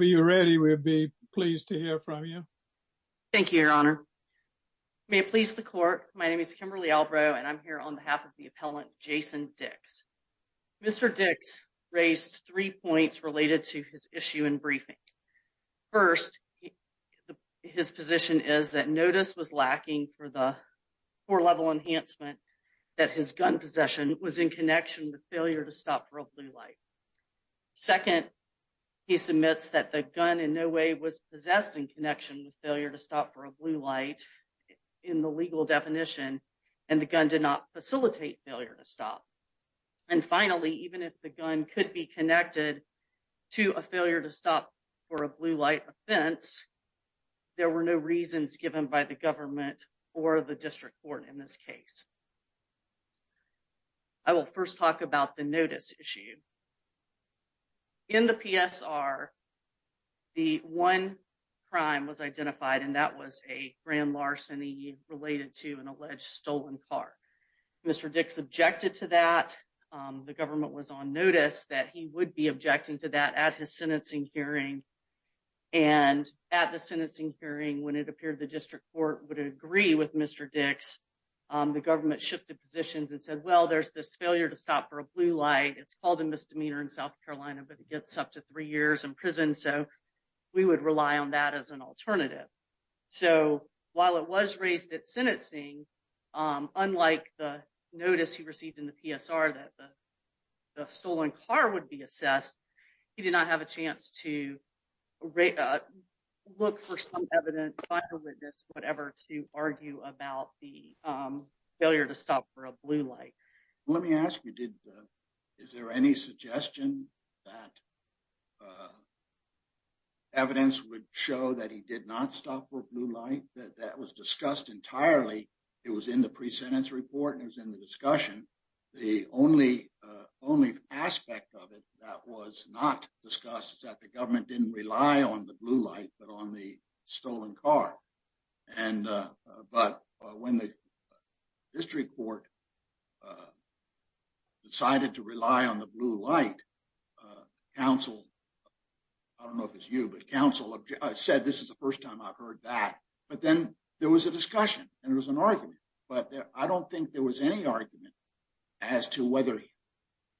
Mr. Dix raised three points related to his issue in briefing. First, his position is that notice was lacking for the four-level enhancement that his gun possession was in connection with failure to stop for a blue light. Second, he submits that the gun in no way was possessed in connection with failure to stop for a blue light in the legal definition, and the gun did not facilitate failure to stop. And finally, even if the gun could be connected to a failure to stop for a blue light offense, there were no reasons given by the government or the district court in this case. I will first talk about the notice issue. In the PSR, the one crime was identified, and that was a grand larceny related to an alleged stolen car. Mr. Dix objected to that. The government was on notice that he would be objecting to that at his sentencing hearing. And at the sentencing hearing, when it appeared the district court would agree with Mr. Dix, the government shifted positions and said, well, there's this failure to stop for a blue light. It's called a misdemeanor in South Carolina, but it gets up to three years in prison, so we would rely on that as an alternative. So while it was raised at sentencing, unlike the notice he received in the PSR that the stolen car would be assessed, he did not have a chance to look for some evidence, find a witness, whatever, to argue about the failure to stop for a blue light. Let me ask you, is there any suggestion that evidence would show that he did not stop for a blue light? That was discussed entirely. It was in the pre-sentence report and it was in the discussion. The only aspect of it that was not discussed is that the government didn't rely on the blue light, but on the stolen car. But when the district court decided to rely on the blue light, counsel, I don't know if it's you, but counsel said, this is the first time I've heard that. But then there was a discussion and there was an argument, but I don't think there was any argument as to whether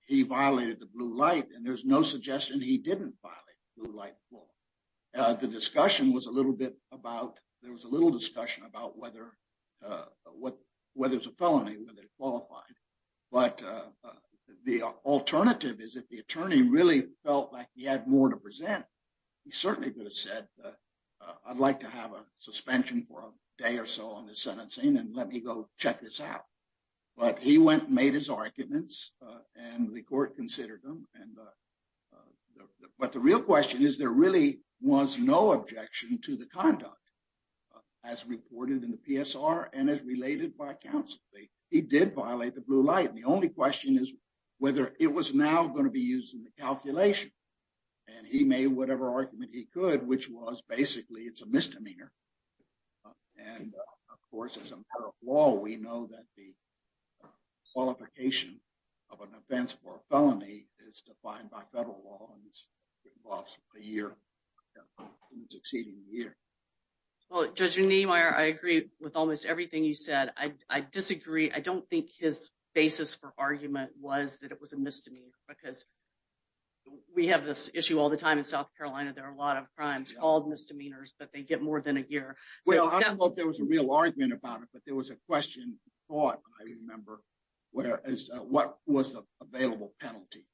he violated the blue light, and there's no suggestion he didn't violate the blue light law. The discussion was a little bit about, there was a little discussion about whether it's a felony, whether it qualified. But the alternative is if the attorney really felt like he had more to present, he certainly could have said, I'd like to have a suspension for a day or so on this sentencing and let me go check this out. But he went and made his arguments and the court considered them. But the real question is, there really was no objection to the conduct as reported in the PSR and as related by counsel. He did violate the blue light. And the only question is whether it was now going to be used in the calculation. And he made whatever argument he could, which was basically it's a misdemeanor. And of course, as a matter of law, we know that the qualification of an offense for a felony is defined by federal law and involves a year, even exceeding a year. Well, Judge Niemeyer, I agree with almost everything you said. I disagree. I don't think his basis for argument was that it was a misdemeanor because we have this issue all the time in South Carolina. There are a lot of crimes called misdemeanors, but they get more than a year. Well, I don't know if there was a real argument about it, but there was a question brought, I remember, as to what was the available penalty.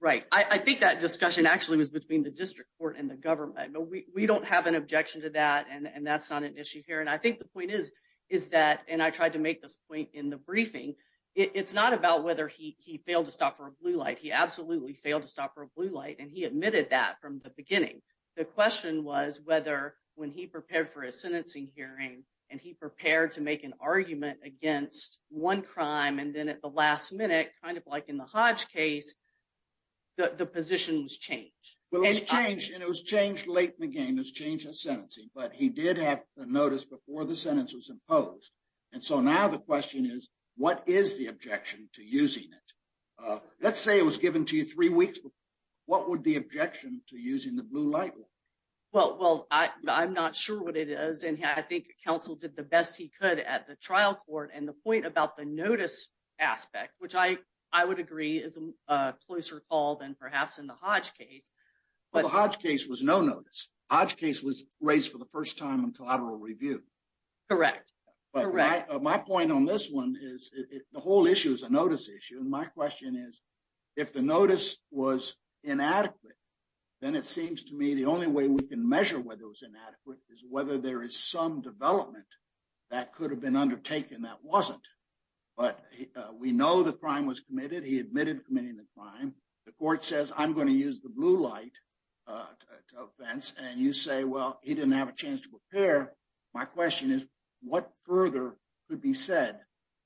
Right. I think that discussion actually was between the district court and the government, but we don't have an objection to that. And that's not an issue here. And I think the point is, is that and I tried to make this point in the briefing. It's not about whether he failed to stop for a blue light. He absolutely failed to stop for a blue light. And he admitted that from the beginning. The question was whether when he prepared for a sentencing hearing and he prepared to make an argument against one crime and then at the last minute, kind of like in the Hodge case, the position was changed. It was changed late in the game. It was changed in sentencing, but he did have a notice before the sentence was imposed. And so now the question is, what is the objection to using it? Let's say it was given to you three weeks before. What would be objection to using the blue light? Well, I'm not sure what it is. And I think counsel did the best he could at the trial court. And the point about the notice aspect, which I would agree is a closer call than perhaps in the Hodge case. But the Hodge case was no notice. Hodge case was raised for the first time in collateral review. Correct. Correct. My point on this one is the whole issue is a notice issue. And my question is, if the notice was inadequate, then it seems to me the only way we can measure whether it was inadequate is whether there is some development that could have been undertaken that wasn't. But we know the crime was committed. He admitted committing the crime. The court says, I'm going to use the blue light offense. And you say, well, he didn't have a chance to prepare. My question is, what further could be said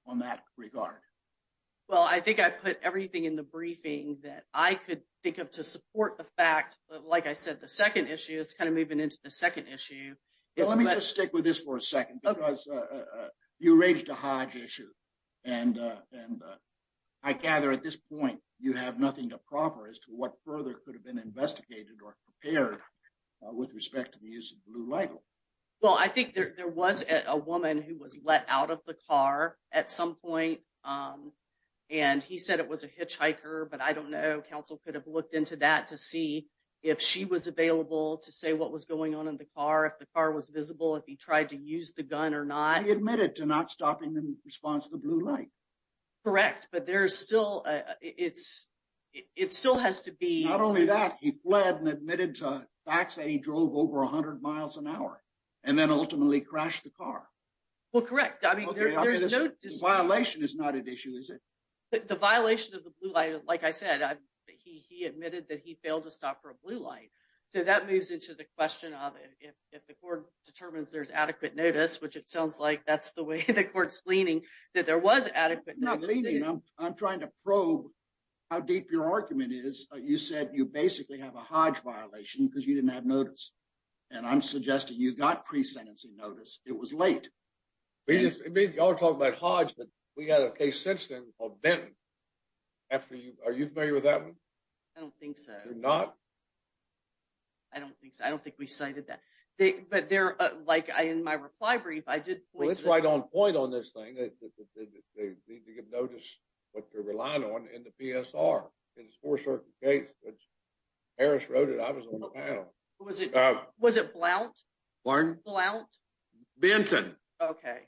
on that regard? Well, I think I put everything in the briefing that I could think of to support the fact that, like I said, the second issue is kind of moving into the second issue. Let me just stick with this for a second because you raised a Hodge issue. And I gather at this point, you have nothing to proffer as to what further could have been investigated or prepared with respect to the use of blue light. Well, I think there was a woman who was let out of the car at some point. And he said it was a hitchhiker. But I don't know. Counsel could have looked into that to see if she was available to say what was going on in the car, if the car was visible, if he tried to use the gun or not. He admitted to not stopping in response to the blue light. Correct. But there's still... It still has to be... Not only that, he fled and admitted to facts that he drove over 100 miles an hour and then ultimately crashed the car. Well, correct. I mean, there's no... The violation is not an issue, is it? The violation of the blue light, like I said, he admitted that he failed to stop for a blue light. So that moves into the question of if the court determines there's adequate notice, which it sounds like that's the way the court's leaning, that there was adequate... I'm trying to probe how deep your argument is. You said you basically have a Hodge violation because you didn't have notice. And I'm suggesting you got pre-sentencing notice. It was late. Y'all are talking about Hodge, but we had a case since then called Benton. Are you familiar with that one? I don't think so. You're not? I don't think so. I don't think we cited that. But there, like, in my reply brief, I did point to... They need to give notice what they're relying on in the PSR. It's a four-circuit case. Harris wrote it. I was on the panel. Was it Blount? Pardon? Blount? Benton. Okay.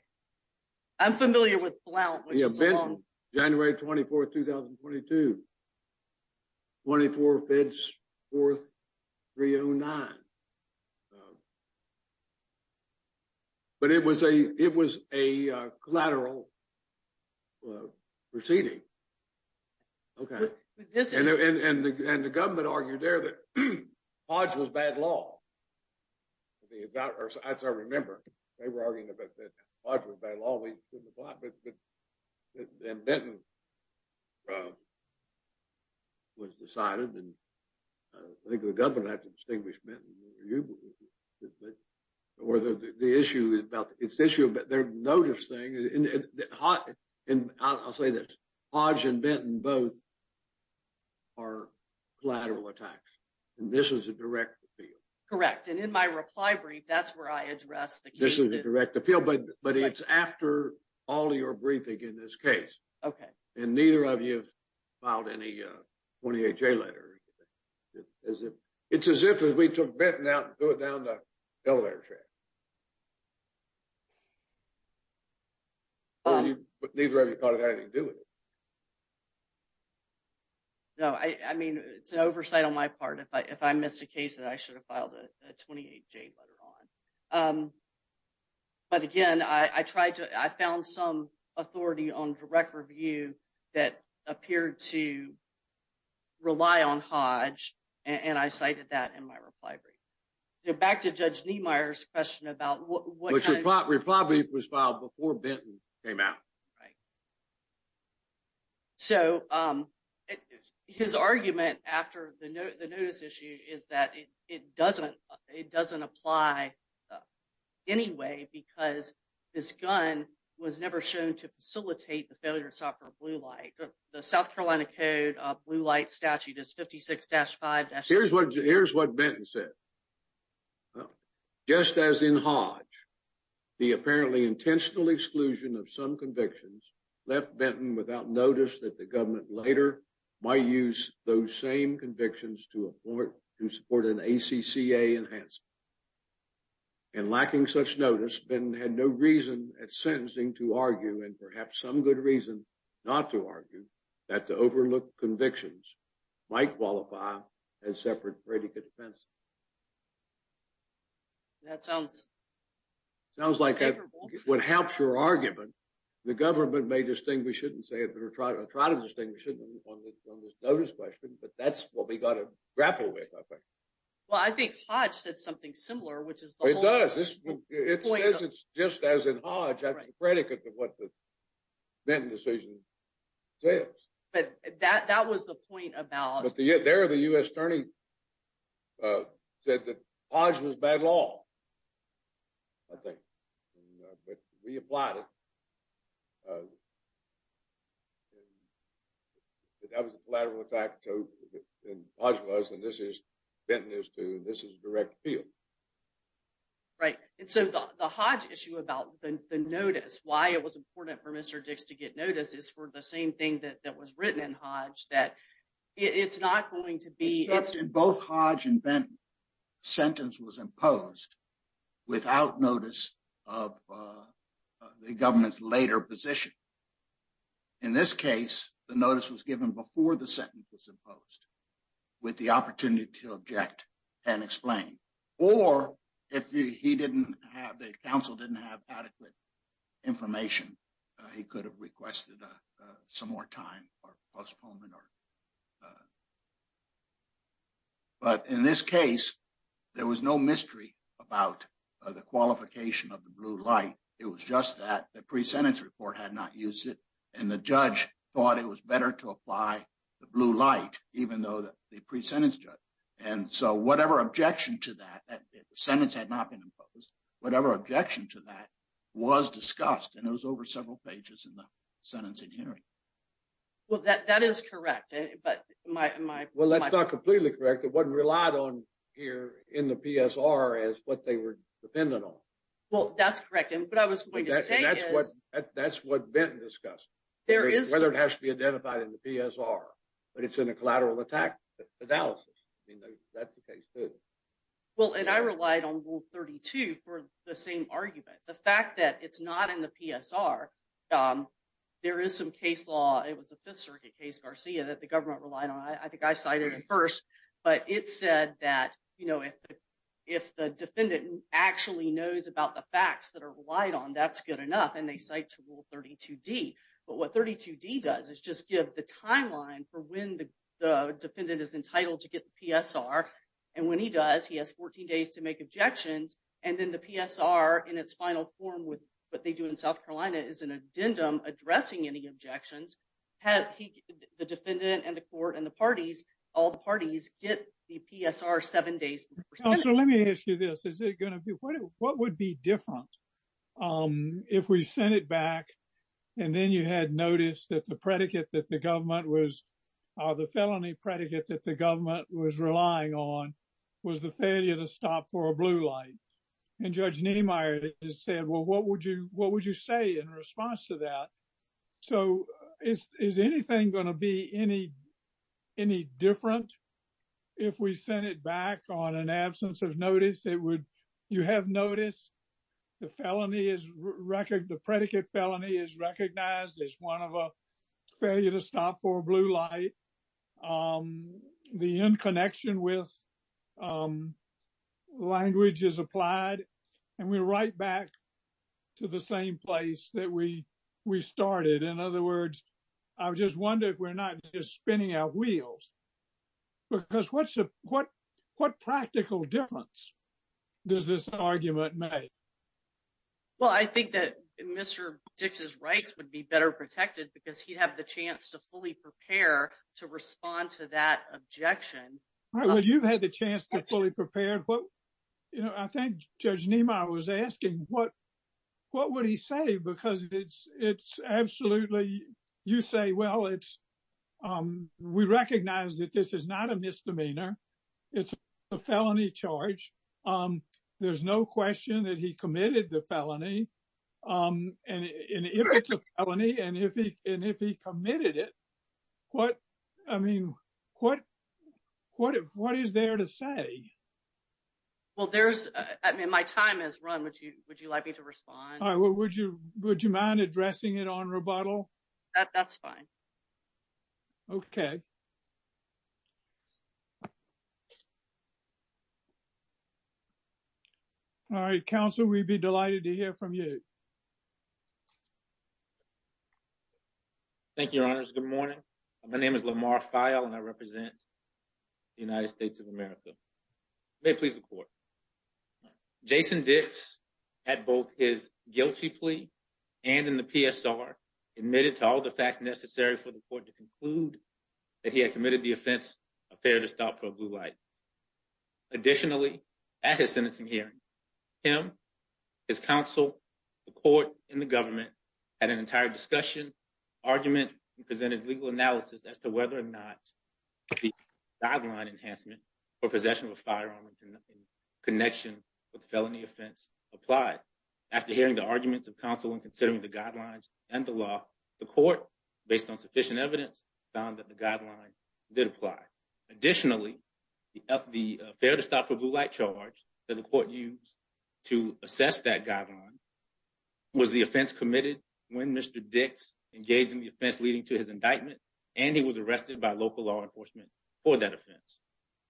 I'm familiar with Blount. Yeah, Benton. January 24, 2022. 24th, 4th, 309. But it was a collateral proceeding. Okay. And the government argued there that Hodge was bad law. As I remember, they were arguing that Hodge was bad law. And Benton was decided. And I think the government had to distinguish Benton. Or the issue about their notice thing. And I'll say this. Hodge and Benton both are collateral attacks. And this is a direct appeal. Correct. And in my reply brief, that's where I addressed the case. This is a direct appeal, but it's after all your briefing in this case. Okay. And neither of you filed any 28-J letters. It's as if we took Benton out and threw it down the elevator track. But neither of you got anything to do with it. No, I mean, it's an oversight on my part if I missed a case that I should have filed a 28-J letter on. But again, I found some authority on direct review that appeared to rely on Hodge. And I cited that in my reply brief. Back to Judge Niemeyer's question about what kind of... Reply brief was filed before Benton came out. Right. So his argument after the notice issue is that it doesn't apply anyway because this gun was never shown to facilitate the failure of software Blue Light. The South Carolina Code of Blue Light statute is 56-5. Here's what Benton said. Just as in Hodge, the apparently intentional exclusion of some convictions left Benton without notice that the government later might use those same convictions to support an ACCA enhancement. And lacking such notice, Benton had no reason at sentencing to argue and perhaps some good reason not to argue that the overlooked convictions might qualify as separate predicate offenses. That sounds favorable. It sounds like what helps your argument, the government may distinguish it and try to distinguish it on this notice question, but that's what we got to grapple with, I think. Well, I think Hodge said something similar, which is the whole... It does. It says it's just as in Hodge as a predicate to what the Benton decision says. But that was the point about... There, the U.S. attorney said that Hodge was by law, I think. But we applied it. That was a collateral effect. And Hodge was, and Benton is, too. This is a direct appeal. Right. And so the Hodge issue about the notice, why it was important for Mr. Dix to get notice is for the same thing that was written in Hodge, that it's not going to be... In both Hodge and Benton, sentence was imposed without notice of the government's later position. In this case, the notice was given before the sentence was imposed with the opportunity to object and explain. Or if he didn't have, the counsel didn't have adequate information, he could have requested some more time or postponement or... But in this case, there was no mystery about the qualification of the blue light. It was just that the pre-sentence report had not used it. And the judge thought it was better to apply the blue light, even though the pre-sentence judge. And so whatever objection to that, the sentence had not been imposed, whatever objection to that was discussed. And it was over several pages in the sentencing hearing. Well, that is correct. But my... Well, that's not completely correct. It wasn't relied on here in the PSR as what they were dependent on. Well, that's correct. And what I was going to say is... That's what Benton discussed. There is... Well, and I relied on Rule 32 for the same argument. The fact that it's not in the PSR, there is some case law. It was a Fifth Circuit case, Garcia, that the government relied on. I think I cited it first. But it said that, you know, if the defendant actually knows about the facts that are relied on, that's good enough. And they cite to Rule 32D. But what 32D does is just give the timeline for when the defendant is entitled to get the PSR. And when he does, he has 14 days to make objections. And then the PSR in its final form with what they do in South Carolina is an addendum addressing any objections. The defendant and the court and the parties, all the parties get the PSR seven days. So let me ask you this. Is it going to be... What would be different if we sent it back? And then you had noticed that the predicate that the government was... The felony predicate that the government was relying on was the failure to stop for a blue light. And Judge Niemeyer said, well, what would you say in response to that? So is anything going to be any different if we send it back on an absence of notice? You have noticed the felony is... The predicate felony is recognized as one of a failure to stop for a blue light. The in connection with language is applied. And we're right back to the same place that we started. In other words, I just wonder if we're not just spinning our wheels. Because what practical difference does this argument make? Well, I think that Mr. Dix's rights would be better protected because he'd have the chance to fully prepare to respond to that objection. Well, you've had the chance to fully prepare. I think Judge Niemeyer was asking what would he say? Because it's absolutely... You say, well, we recognize that this is not a misdemeanor. It's a felony charge. There's no question that he committed the felony. And if it's a felony and if he committed it, what is there to say? Well, my time has run. Would you like me to respond? Would you mind addressing it on rebuttal? That's fine. Okay. All right. Counsel, we'd be delighted to hear from you. Thank you, Your Honors. Good morning. My name is Lamar Feil and I represent the United States of America. May it please the court. Jason Dix, at both his guilty plea and in the PSR, admitted to all the facts necessary for the court to conclude that he had committed the offense, a fare to stop for a blue light. Additionally, at his sentencing hearing, him, his counsel, the court, and the government had an entire discussion, argument, and presented legal analysis as to whether or not the guideline enhancement for possession of a firearm in connection with felony offense applied. After hearing the arguments of counsel and considering the guidelines and the law, the court, based on sufficient evidence, found that the guideline did apply. Additionally, the fare to stop for blue light charge that the court used to assess that guideline was the offense committed when Mr. Dix engaged in the offense leading to his indictment, and he was arrested by local law enforcement for that offense.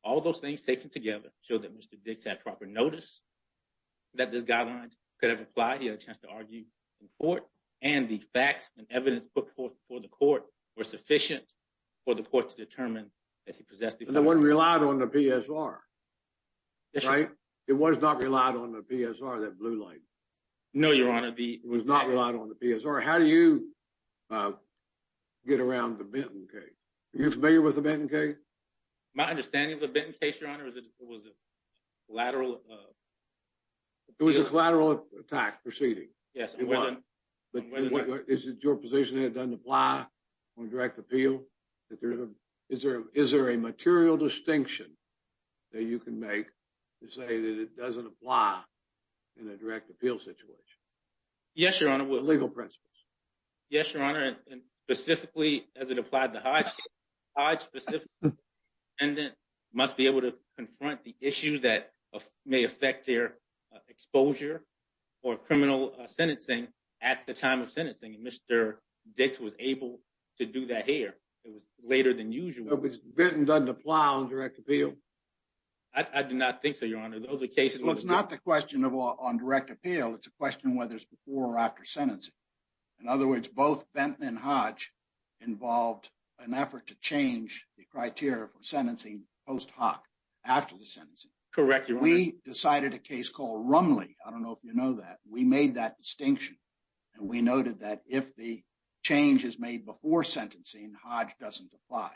All those things taken together show that Mr. Dix had proper notice that this guideline could have applied. He had a chance to argue in court, and the facts and evidence put forth before the court were sufficient for the court to determine that he possessed the firearm. But it wasn't relied on the PSR, right? It was not relied on the PSR, that blue light. No, Your Honor. It was not relied on the PSR. How do you get around the Benton case? Are you familiar with the Benton case? My understanding of the Benton case, Your Honor, is that it was a collateral. It was a collateral tax proceeding. Yes. Is it your position that it doesn't apply on direct appeal? Is there a material distinction that you can make to say that it doesn't apply in a direct appeal situation? Yes, Your Honor. Legal principles. Yes, Your Honor. And specifically, as it applied to Hodge, Hodge specifically must be able to confront the issue that may affect their exposure or criminal sentencing at the time of sentencing. And Mr. Dix was able to do that here. It was later than usual. Benton doesn't apply on direct appeal? I do not think so, Your Honor. Well, it's not the question on direct appeal. It's a question whether it's before or after sentencing. In other words, both Benton and Hodge involved an effort to change the criteria for sentencing post hoc, after the sentencing. Correct, Your Honor. We decided a case called Rumley. I don't know if you know that. We made that distinction. And we noted that if the change is made before sentencing, Hodge doesn't apply.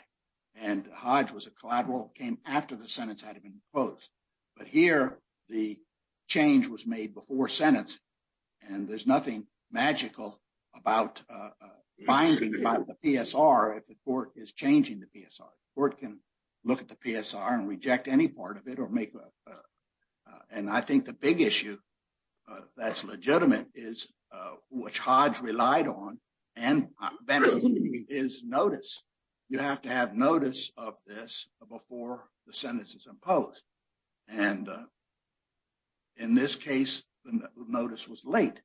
And Hodge was a collateral that came after the sentence had been imposed. But here, the change was made before sentence. And there's nothing magical about finding about the PSR if the court is changing the PSR. The court can look at the PSR and reject any part of it or make a... And I think the big issue that's legitimate is which Hodge relied on and Benton is notice. You have to have notice of this before the sentence is imposed. And in this case, the notice was late.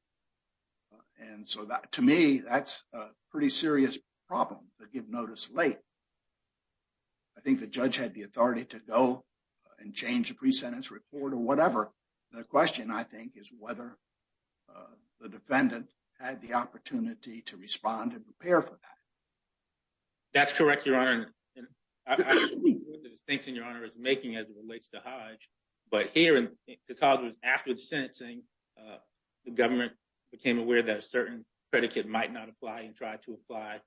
And so, to me, that's a pretty serious problem to give notice late. I think the judge had the authority to go and change the pre-sentence report or whatever. The question, I think, is whether the defendant had the opportunity to respond and prepare for that. That's correct, Your Honor. And I agree with the distinction Your Honor is making as it relates to Hodge. But here, the cause was after the sentencing, the government became aware that a certain predicate might not apply and tried to apply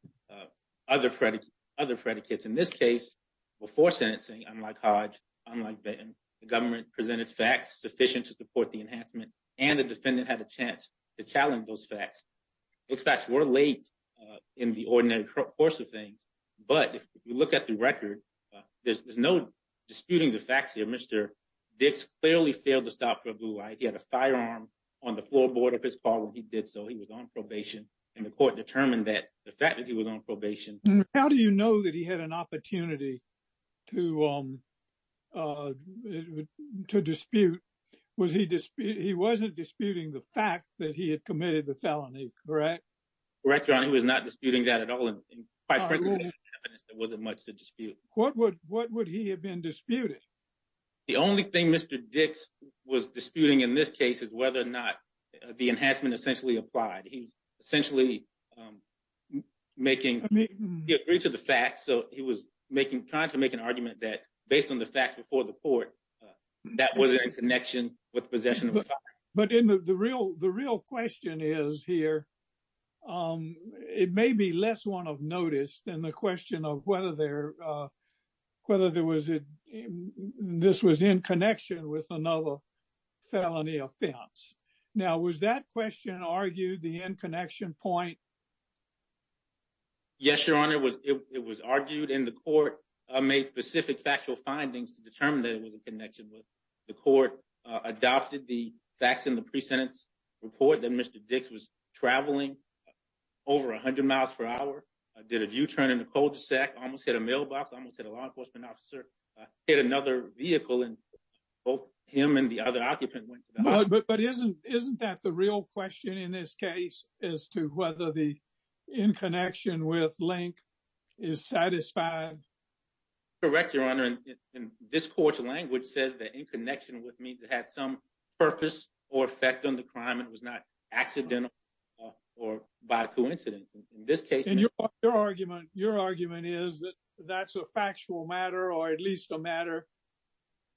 other predicates. In this case, before sentencing, unlike Hodge, unlike Benton, the government presented facts sufficient to support the enhancement. And the defendant had a chance to challenge those facts. Those facts were late in the ordinary course of things. But if you look at the record, there's no disputing the facts here. Mr. Dix clearly failed to stop Prabhu. He had a firearm on the floorboard of his car when he did so. He was on probation. And the court determined that the fact that he was on probation... He had an opportunity to dispute. He wasn't disputing the fact that he had committed the felony, correct? Correct, Your Honor. He was not disputing that at all. And quite frankly, there wasn't much to dispute. What would he have been disputing? The only thing Mr. Dix was disputing in this case is whether or not the enhancement essentially applied. He was essentially making... He agreed to the facts, so he was trying to make an argument that based on the facts before the court, that wasn't in connection with possession of a firearm. But the real question is here, it may be less one of notice than the question of whether this was in connection with another felony offense. Now, was that question argued, the in-connection point? Yes, Your Honor, it was argued. And the court made specific factual findings to determine that it was in connection with... The court adopted the facts in the pre-sentence report that Mr. Dix was traveling over 100 miles per hour, did a U-turn in the cul-de-sac, almost hit a mailbox, almost hit a law enforcement officer, hit another vehicle, and both him and the other occupant... But isn't that the real question in this case as to whether the in-connection with Link is satisfied? Correct, Your Honor. And this court's language says that in connection with me to have some purpose or effect on the crime, it was not accidental or by coincidence. Your argument is that that's a factual matter or at least a matter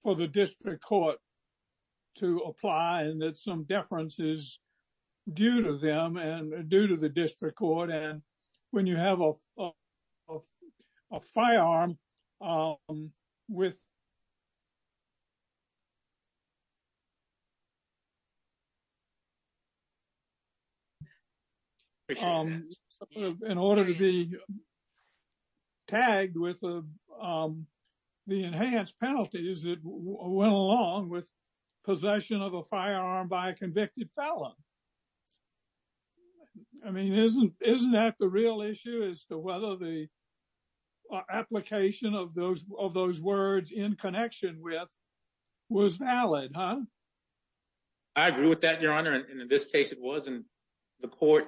for the district court to apply and that some deference is due to them and due to the district court. And when you have a firearm with... In order to be tagged with the enhanced penalties that went along with possession of a firearm by a convicted felon. I mean, isn't that the real issue as to whether the application of those words in connection with was valid? I agree with that, Your Honor. And in this case, it wasn't. The court...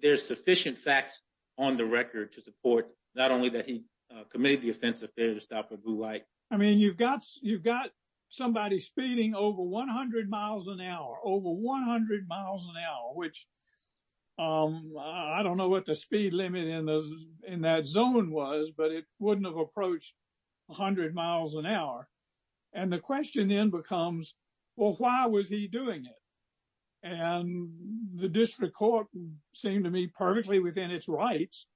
There's sufficient facts on the record to support not only that he committed the offense of failure to stop a blue light. I mean, you've got somebody speeding over 100 miles an hour, over 100 miles an hour, which I don't know what the speed limit in that zone was, but it wouldn't have approached 100 miles an hour. And the question then becomes, well, why was he doing it? And the district court seemed to me perfectly within its rights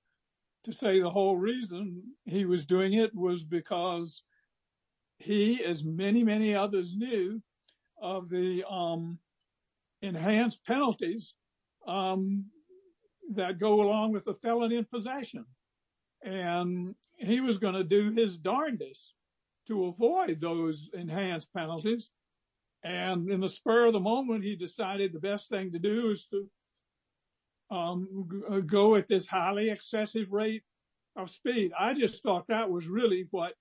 to say the whole reason he was doing it was because he, as many, many others knew, of the enhanced penalties that go along with the felon in possession. And he was going to do his darndest to avoid those enhanced penalties. And in the spur of the moment, he decided the best thing to do is to go at this highly excessive rate of speed. I just thought that was really what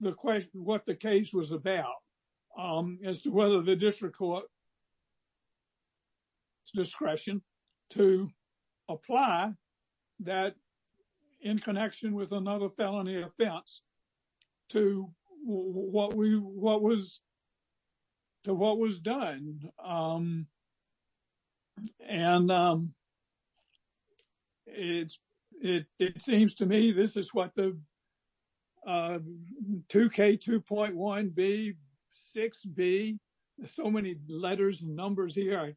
the case was about, as to whether the district court's discretion to apply that in connection with another felony offense to what was done. And it seems to me this is what the 2K2.1B, 6B, there's so many letters and numbers here,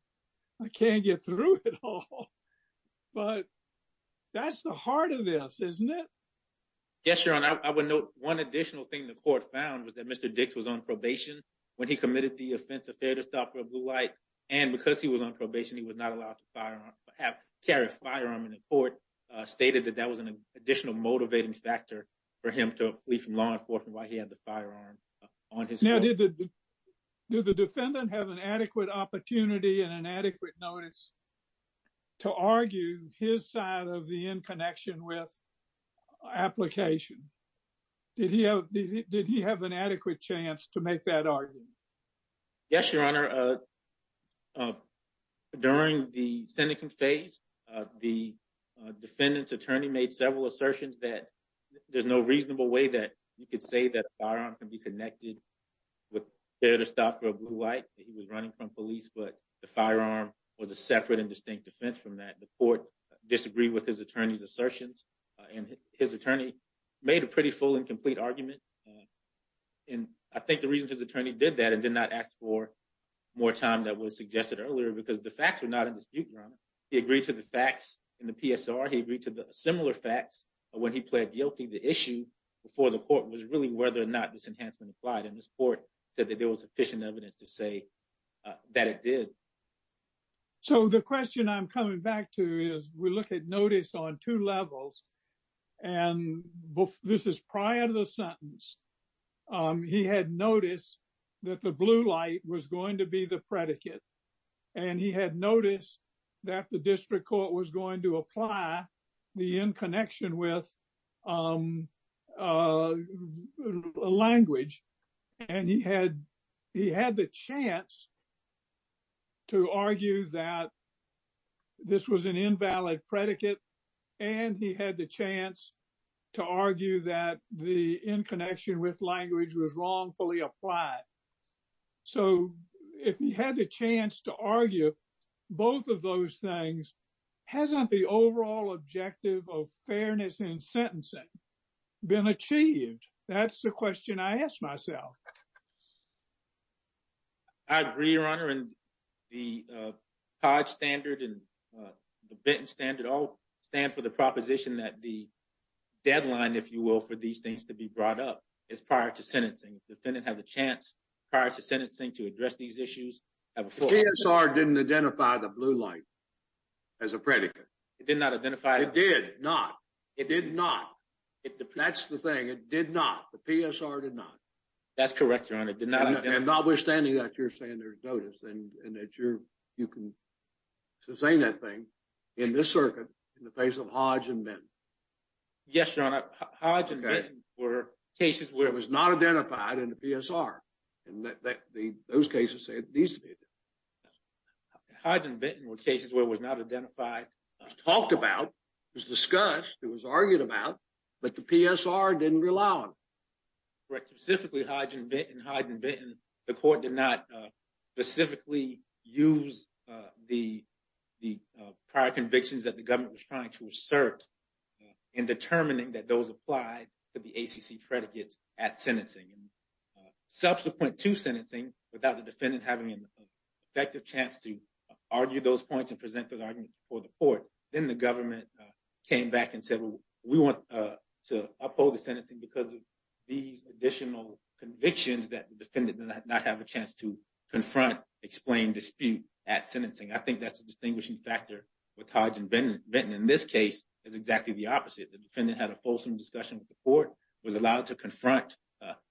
I can't get through it all. But that's the heart of this, isn't it? Yes, Your Honor, I would note one additional thing the court found was that Mr. Dix was on probation when he committed the offense of failure to stop a blue light. And because he was on probation, he was not allowed to carry a firearm in the court, stated that that was an additional motivating factor for him to flee from law enforcement while he had the firearm on his foot. Now, did the defendant have an adequate opportunity and an adequate notice to argue his side of the in connection with application? Did he have an adequate chance to make that argument? Yes, Your Honor. During the sentencing phase, the defendant's attorney made several assertions that there's no reasonable way that you could say that a firearm can be connected with failure to stop a blue light. He was running from police, but the firearm was a separate and distinct defense from that. The court disagreed with his attorney's assertions, and his attorney made a pretty full and complete argument. And I think the reason his attorney did that and did not ask for more time that was suggested earlier because the facts were not in dispute, Your Honor. He agreed to the facts in the PSR. He agreed to the similar facts when he pled guilty. The issue before the court was really whether or not this enhancement applied, and this court said that there was sufficient evidence to say that it did. So the question I'm coming back to is we look at notice on two levels. And this is prior to the sentence. He had noticed that the blue light was going to be the predicate. And he had noticed that the district court was going to apply the in connection with language. And he had the chance to argue that this was an invalid predicate. And he had the chance to argue that the in connection with language was wrongfully applied. So if he had the chance to argue both of those things, hasn't the overall objective of fairness in sentencing been achieved? That's the question I ask myself. I agree, Your Honor, and the COD standard and the Benton standard all stand for the proposition that the deadline, if you will, for these things to be brought up is prior to sentencing. The defendant has a chance prior to sentencing to address these issues. The PSR didn't identify the blue light as a predicate. It did not identify. It did not. It did not. That's the thing. It did not. The PSR did not. That's correct, Your Honor. It did not. Notwithstanding that, you're saying there's notice and that you can sustain that thing in this circuit in the face of Hodge and Benton. Yes, Your Honor. Hodge and Benton were cases where it was not identified in the PSR. And those cases say it needs to be. Hodge and Benton were cases where it was not identified. It was talked about. It was discussed. It was argued about. But the PSR didn't rely on it. Correct. Specifically, Hodge and Benton, the court did not specifically use the prior convictions that the government was trying to assert in determining that those apply to the ACC predicates at sentencing. And subsequent to sentencing, without the defendant having an effective chance to argue those points and present those arguments before the court, then the government came back and said, well, we want to uphold the sentencing because of these additional convictions that the defendant did not have a chance to confront, explain, dispute at sentencing. I think that's a distinguishing factor with Hodge and Benton. In this case, it's exactly the opposite. The defendant had a fulsome discussion with the court, was allowed to confront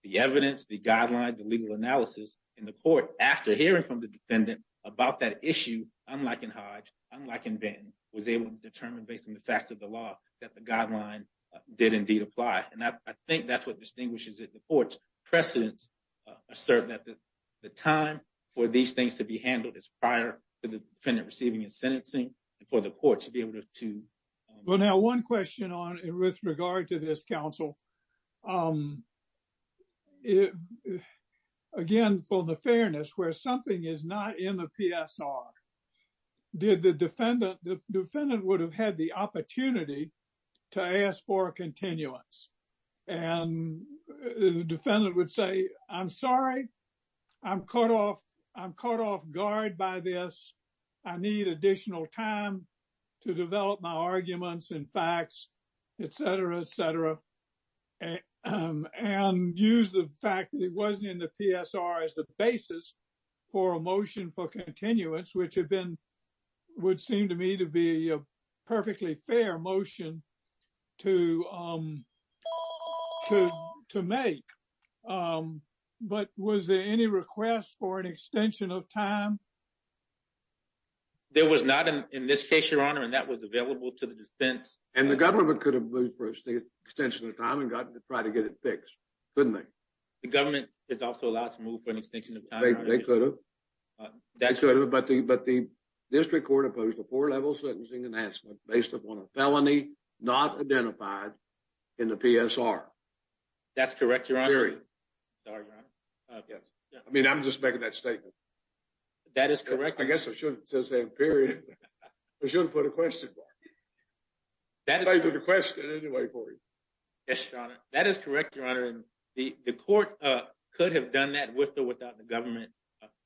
the evidence, the guidelines, the legal analysis in the court. After hearing from the defendant about that issue, unlike in Hodge, unlike in Benton, was able to determine based on the facts of the law that the guideline did indeed apply. And I think that's what distinguishes it. The court's precedents assert that the time for these things to be handled is prior to the defendant receiving his sentencing and for the court to be able to. Well, now, one question on it with regard to this counsel. Again, for the fairness, where something is not in the PSR, did the defendant, the defendant would have had the opportunity to ask for a continuance. And the defendant would say, I'm sorry, I'm caught off guard by this. I need additional time to develop my arguments and facts, et cetera, et cetera. And use the fact that it wasn't in the PSR as the basis for a motion for continuance, which have been would seem to me to be a perfectly fair motion to to make. But was there any request for an extension of time? There was not in this case, your honor, and that was available to the defense and the government could have moved the extension of time and got to try to get it fixed, couldn't they? The government is also allowed to move for an extension of time. They could have, but the district court opposed a four level sentencing enhancement based upon a felony not identified in the PSR. That's correct, your honor. I mean, I'm just making that statement. That is correct. I guess I shouldn't say period. I shouldn't put a question. That is the question anyway for you. That is correct, your honor. The court could have done that with or without the government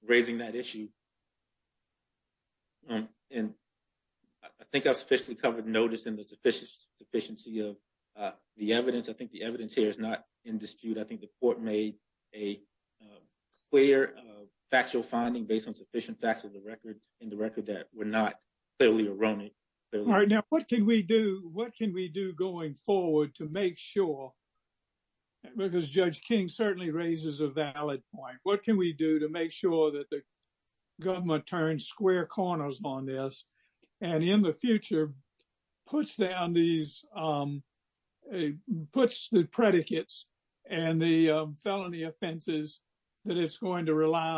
raising that issue. And I think I've sufficiently covered notice in the sufficient sufficiency of the evidence. I think the evidence here is not in dispute. I think the court made a clear factual finding based on sufficient facts of the record in the record that were not clearly erroneous. All right. Now, what can we do? What can we do going forward to make sure? Because Judge King certainly raises a valid point. What can we do to make sure that the government turns square corners on this and in the future puts down these puts the predicates and the felony offenses that it's going to rely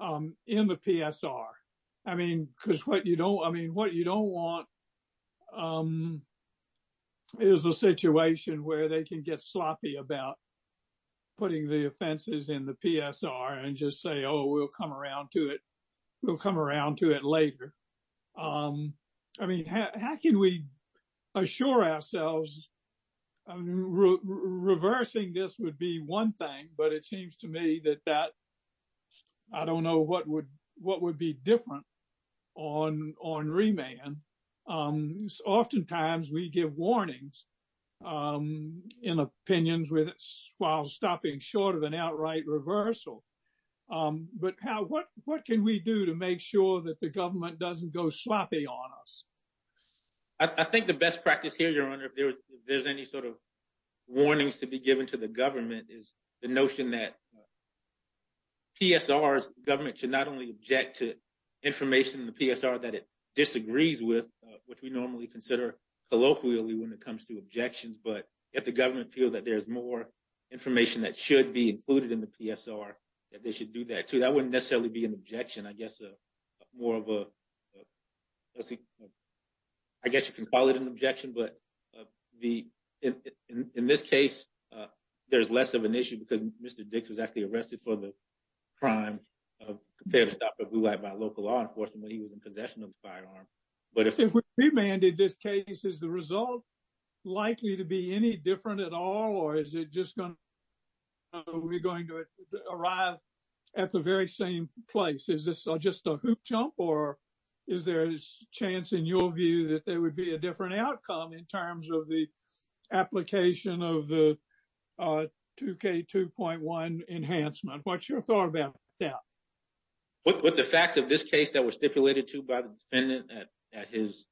on in the PSR? I mean, because what you don't I mean, what you don't want is a situation where they can get sloppy about putting the offenses in the PSR and just say, oh, we'll come around to it. We'll come around to it later. I mean, how can we assure ourselves reversing this would be one thing, but it seems to me that that I don't know what would what would be different on on remand. Oftentimes we give warnings in opinions with while stopping short of an outright reversal. But what what can we do to make sure that the government doesn't go sloppy on us? I think the best practice here, Your Honor, if there's any sort of warnings to be given to the government is the notion that PSR government should not only object to information in the PSR that it disagrees with, which we normally consider colloquially when it comes to objections. But if the government feels that there's more information that should be included in the PSR, that they should do that. So that wouldn't necessarily be an objection, I guess, more of a. I guess you can call it an objection, but the in this case, there's less of an issue because Mr. Prime of the blue light by local law enforcement, he was in possession of the firearm. But if we remanded this case, is the result likely to be any different at all or is it just going to be going to arrive at the very same place? Is this just a hoop jump or is there a chance in your view that there would be a different outcome in terms of the application of the two K two point one enhancement? What's your thought about that with the facts of this case that were stipulated to by the defendant at his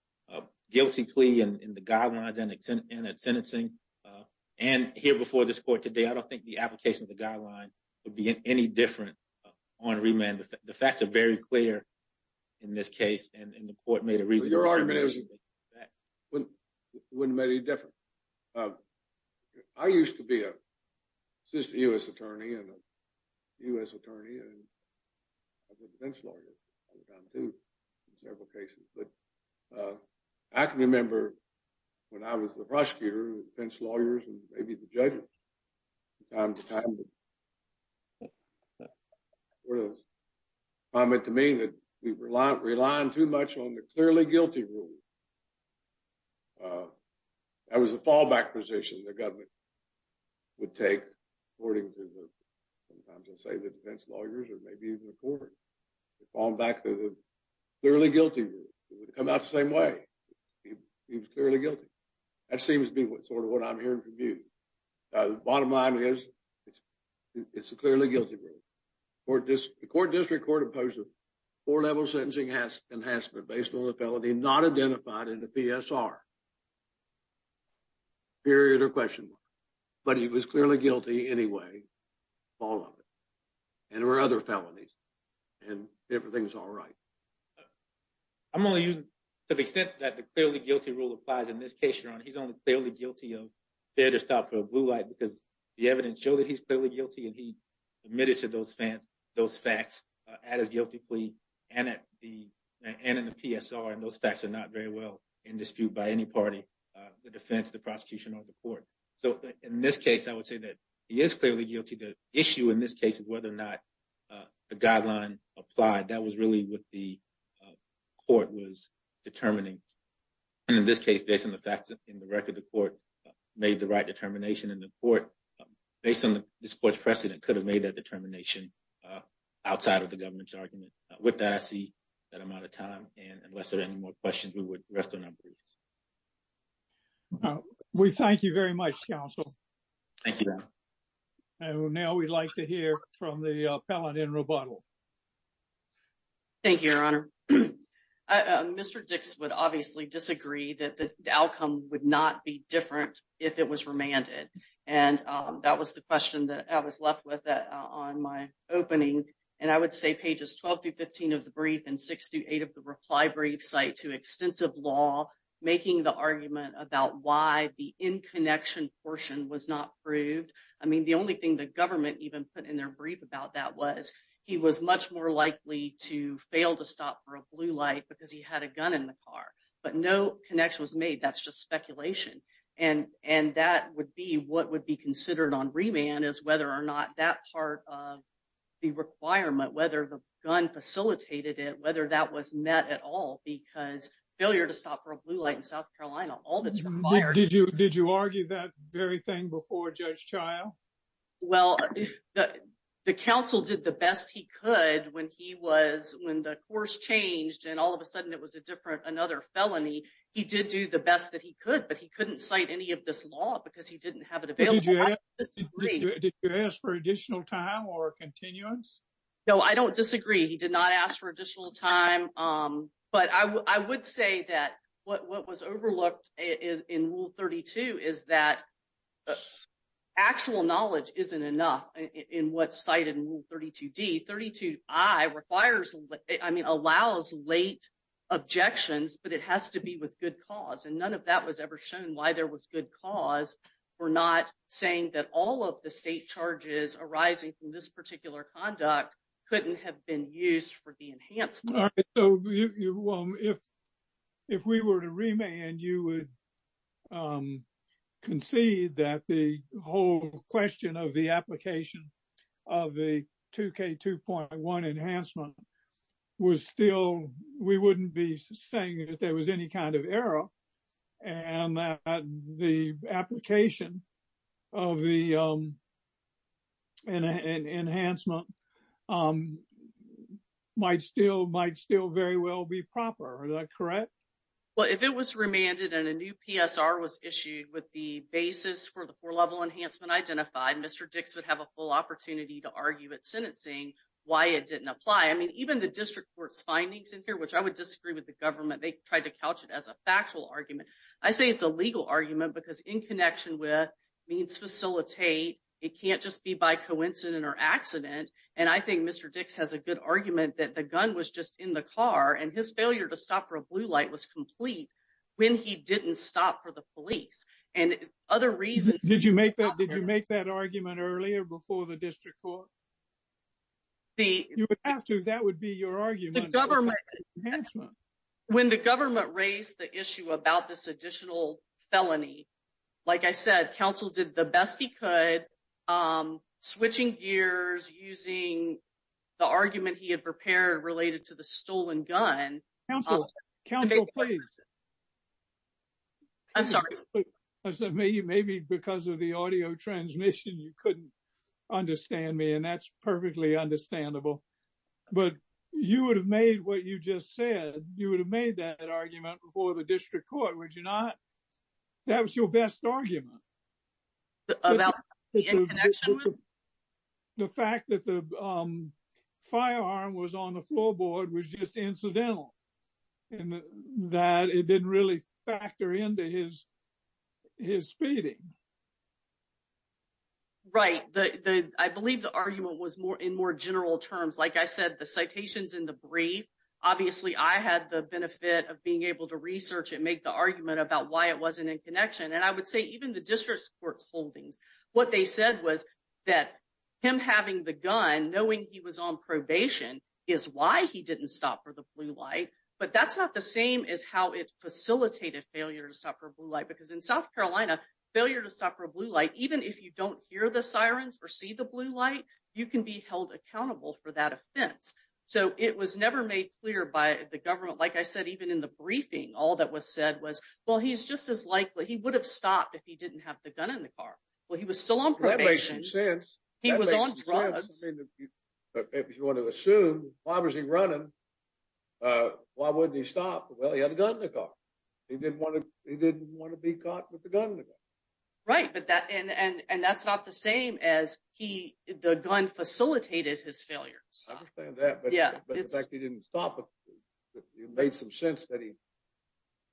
guilty plea and the guidelines and sentencing? And here before this court today, I don't think the application of the guideline would be any different on remand. The facts are very clear in this case. And the court made a reason. Your argument is that wouldn't wouldn't make any difference. I used to be a U.S. attorney and a U.S. attorney and lawyer to several cases, but I can remember when I was the prosecutor, defense lawyers and maybe the judge. I mean, to me that we were relying too much on the clearly guilty rule. That was the fallback position the government would take, according to the defense lawyers or maybe even the court. On back to the clearly guilty come out the same way. He was clearly guilty. That seems to be what sort of what I'm hearing from you. The bottom line is it's it's a clearly guilty for this court district court opposed to four level sentencing has enhanced, but based on the felony not identified in the PSR. Period or question, but he was clearly guilty anyway. And there were other felonies and everything's all right. I'm going to use to the extent that the clearly guilty rule applies in this case. He's only fairly guilty of fair to stop for a blue light because the evidence show that he's clearly guilty. And he admitted to those fans, those facts at his guilty plea and at the end of the PSR. And those facts are not very well in dispute by any party, the defense, the prosecution or the court. So in this case, I would say that he is clearly guilty. The issue in this case is whether or not the guideline applied. That was really what the court was determining. And in this case, based on the facts in the record, the court made the right determination in the court. Based on the sports precedent could have made that determination outside of the government's argument. With that, I see that amount of time. And unless there are any more questions, we would rest on our boots. We thank you very much, counsel. Thank you. And now we'd like to hear from the appellate in rebuttal. Thank you, Your Honor. Mr. Dix would obviously disagree that the outcome would not be different if it was remanded. And that was the question that I was left with on my opening. And I would say pages 12 to 15 of the brief and 68 of the reply brief site to extensive law, making the argument about why the in connection portion was not proved. I mean, the only thing the government even put in their brief about that was he was much more likely to fail to stop for a blue light because he had a gun in the car. But no connection was made. That's just speculation. And and that would be what would be considered on remand is whether or not that part of the requirement, whether the gun facilitated it, whether that was met at all because failure to stop for a blue light in South Carolina, all that's required. Did you did you argue that very thing before Judge Child? Well, the the council did the best he could when he was when the course changed and all of a sudden it was a different another felony. He did do the best that he could, but he couldn't cite any of this law because he didn't have it available. Did you ask for additional time or continuance? No, I don't disagree. He did not ask for additional time, but I would say that what was overlooked in rule 32 is that actual knowledge isn't enough in what's cited in rule 32 D. 32. I requires I mean, allows late objections, but it has to be with good cause. And none of that was ever shown why there was good cause for not saying that all of the state charges arising from this particular conduct couldn't have been used for the enhancement. So if if we were to remain and you would concede that the whole question of the application of the two K two point one enhancement was still we wouldn't be saying that there was any kind of error. And the application of the enhancement might still might still very well be proper, correct? Well, if it was remanded and a new PSR was issued with the basis for the four level enhancement identified, Mr. Dix would have a full opportunity to argue at sentencing why it didn't apply. I mean, even the district court's findings in here, which I would disagree with the government, they tried to couch it as a factual argument. I say it's a legal argument because in connection with means facilitate, it can't just be by coincidence or accident. And I think Mr. Dix has a good argument that the gun was just in the car and his failure to stop for a blue light was complete when he didn't stop for the police. And other reasons. Did you make that? Did you make that argument earlier before the district court? You would have to. That would be your argument. When the government raised the issue about this additional felony, like I said, counsel did the best he could. Switching gears using the argument he had prepared related to the stolen gun. Counsel, counsel, please. I'm sorry. Maybe because of the audio transmission, you couldn't understand me. And that's perfectly understandable. But you would have made what you just said, you would have made that argument before the district court, would you not? That was your best argument. About the fact that the firearm was on the floorboard was just incidental and that it didn't really factor into his. Right, I believe the argument was more in more general terms, like I said, the citations in the brief. Obviously, I had the benefit of being able to research and make the argument about why it wasn't in connection. And I would say even the district court holdings, what they said was that him having the gun, knowing he was on probation is why he didn't stop for the blue light. But that's not the same as how it facilitated failure to stop for blue light. Because in South Carolina, failure to stop for blue light, even if you don't hear the sirens or see the blue light, you can be held accountable for that offense. So it was never made clear by the government. Like I said, even in the briefing, all that was said was, well, he's just as likely he would have stopped if he didn't have the gun in the car. Well, he was still on probation. He was on drugs. If you want to assume, why was he running? Why wouldn't he stop? Well, he had a gun in the car. He didn't want to be caught with the gun in the car. Right, and that's not the same as the gun facilitated his failure to stop. I understand that, but the fact that he didn't stop, it made some sense that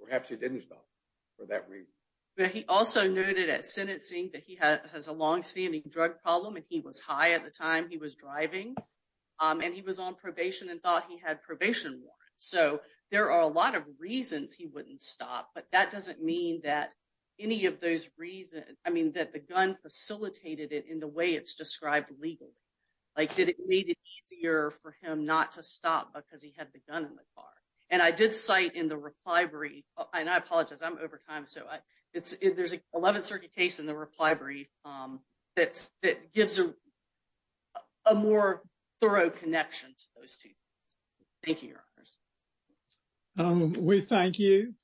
perhaps he didn't stop for that reason. But he also noted at sentencing that he has a long-standing drug problem, and he was high at the time he was driving. And he was on probation and thought he had probation warrants. So there are a lot of reasons he wouldn't stop, but that doesn't mean that any of those reasons, I mean, that the gun facilitated it in the way it's described legally. Like, did it make it easier for him not to stop because he had the gun in the car? And I did cite in the reply brief, and I apologize, I'm over time, so there's an 11th Circuit case in the reply brief that gives a more thorough connection to those two things. Thank you, Your Honors. We thank you.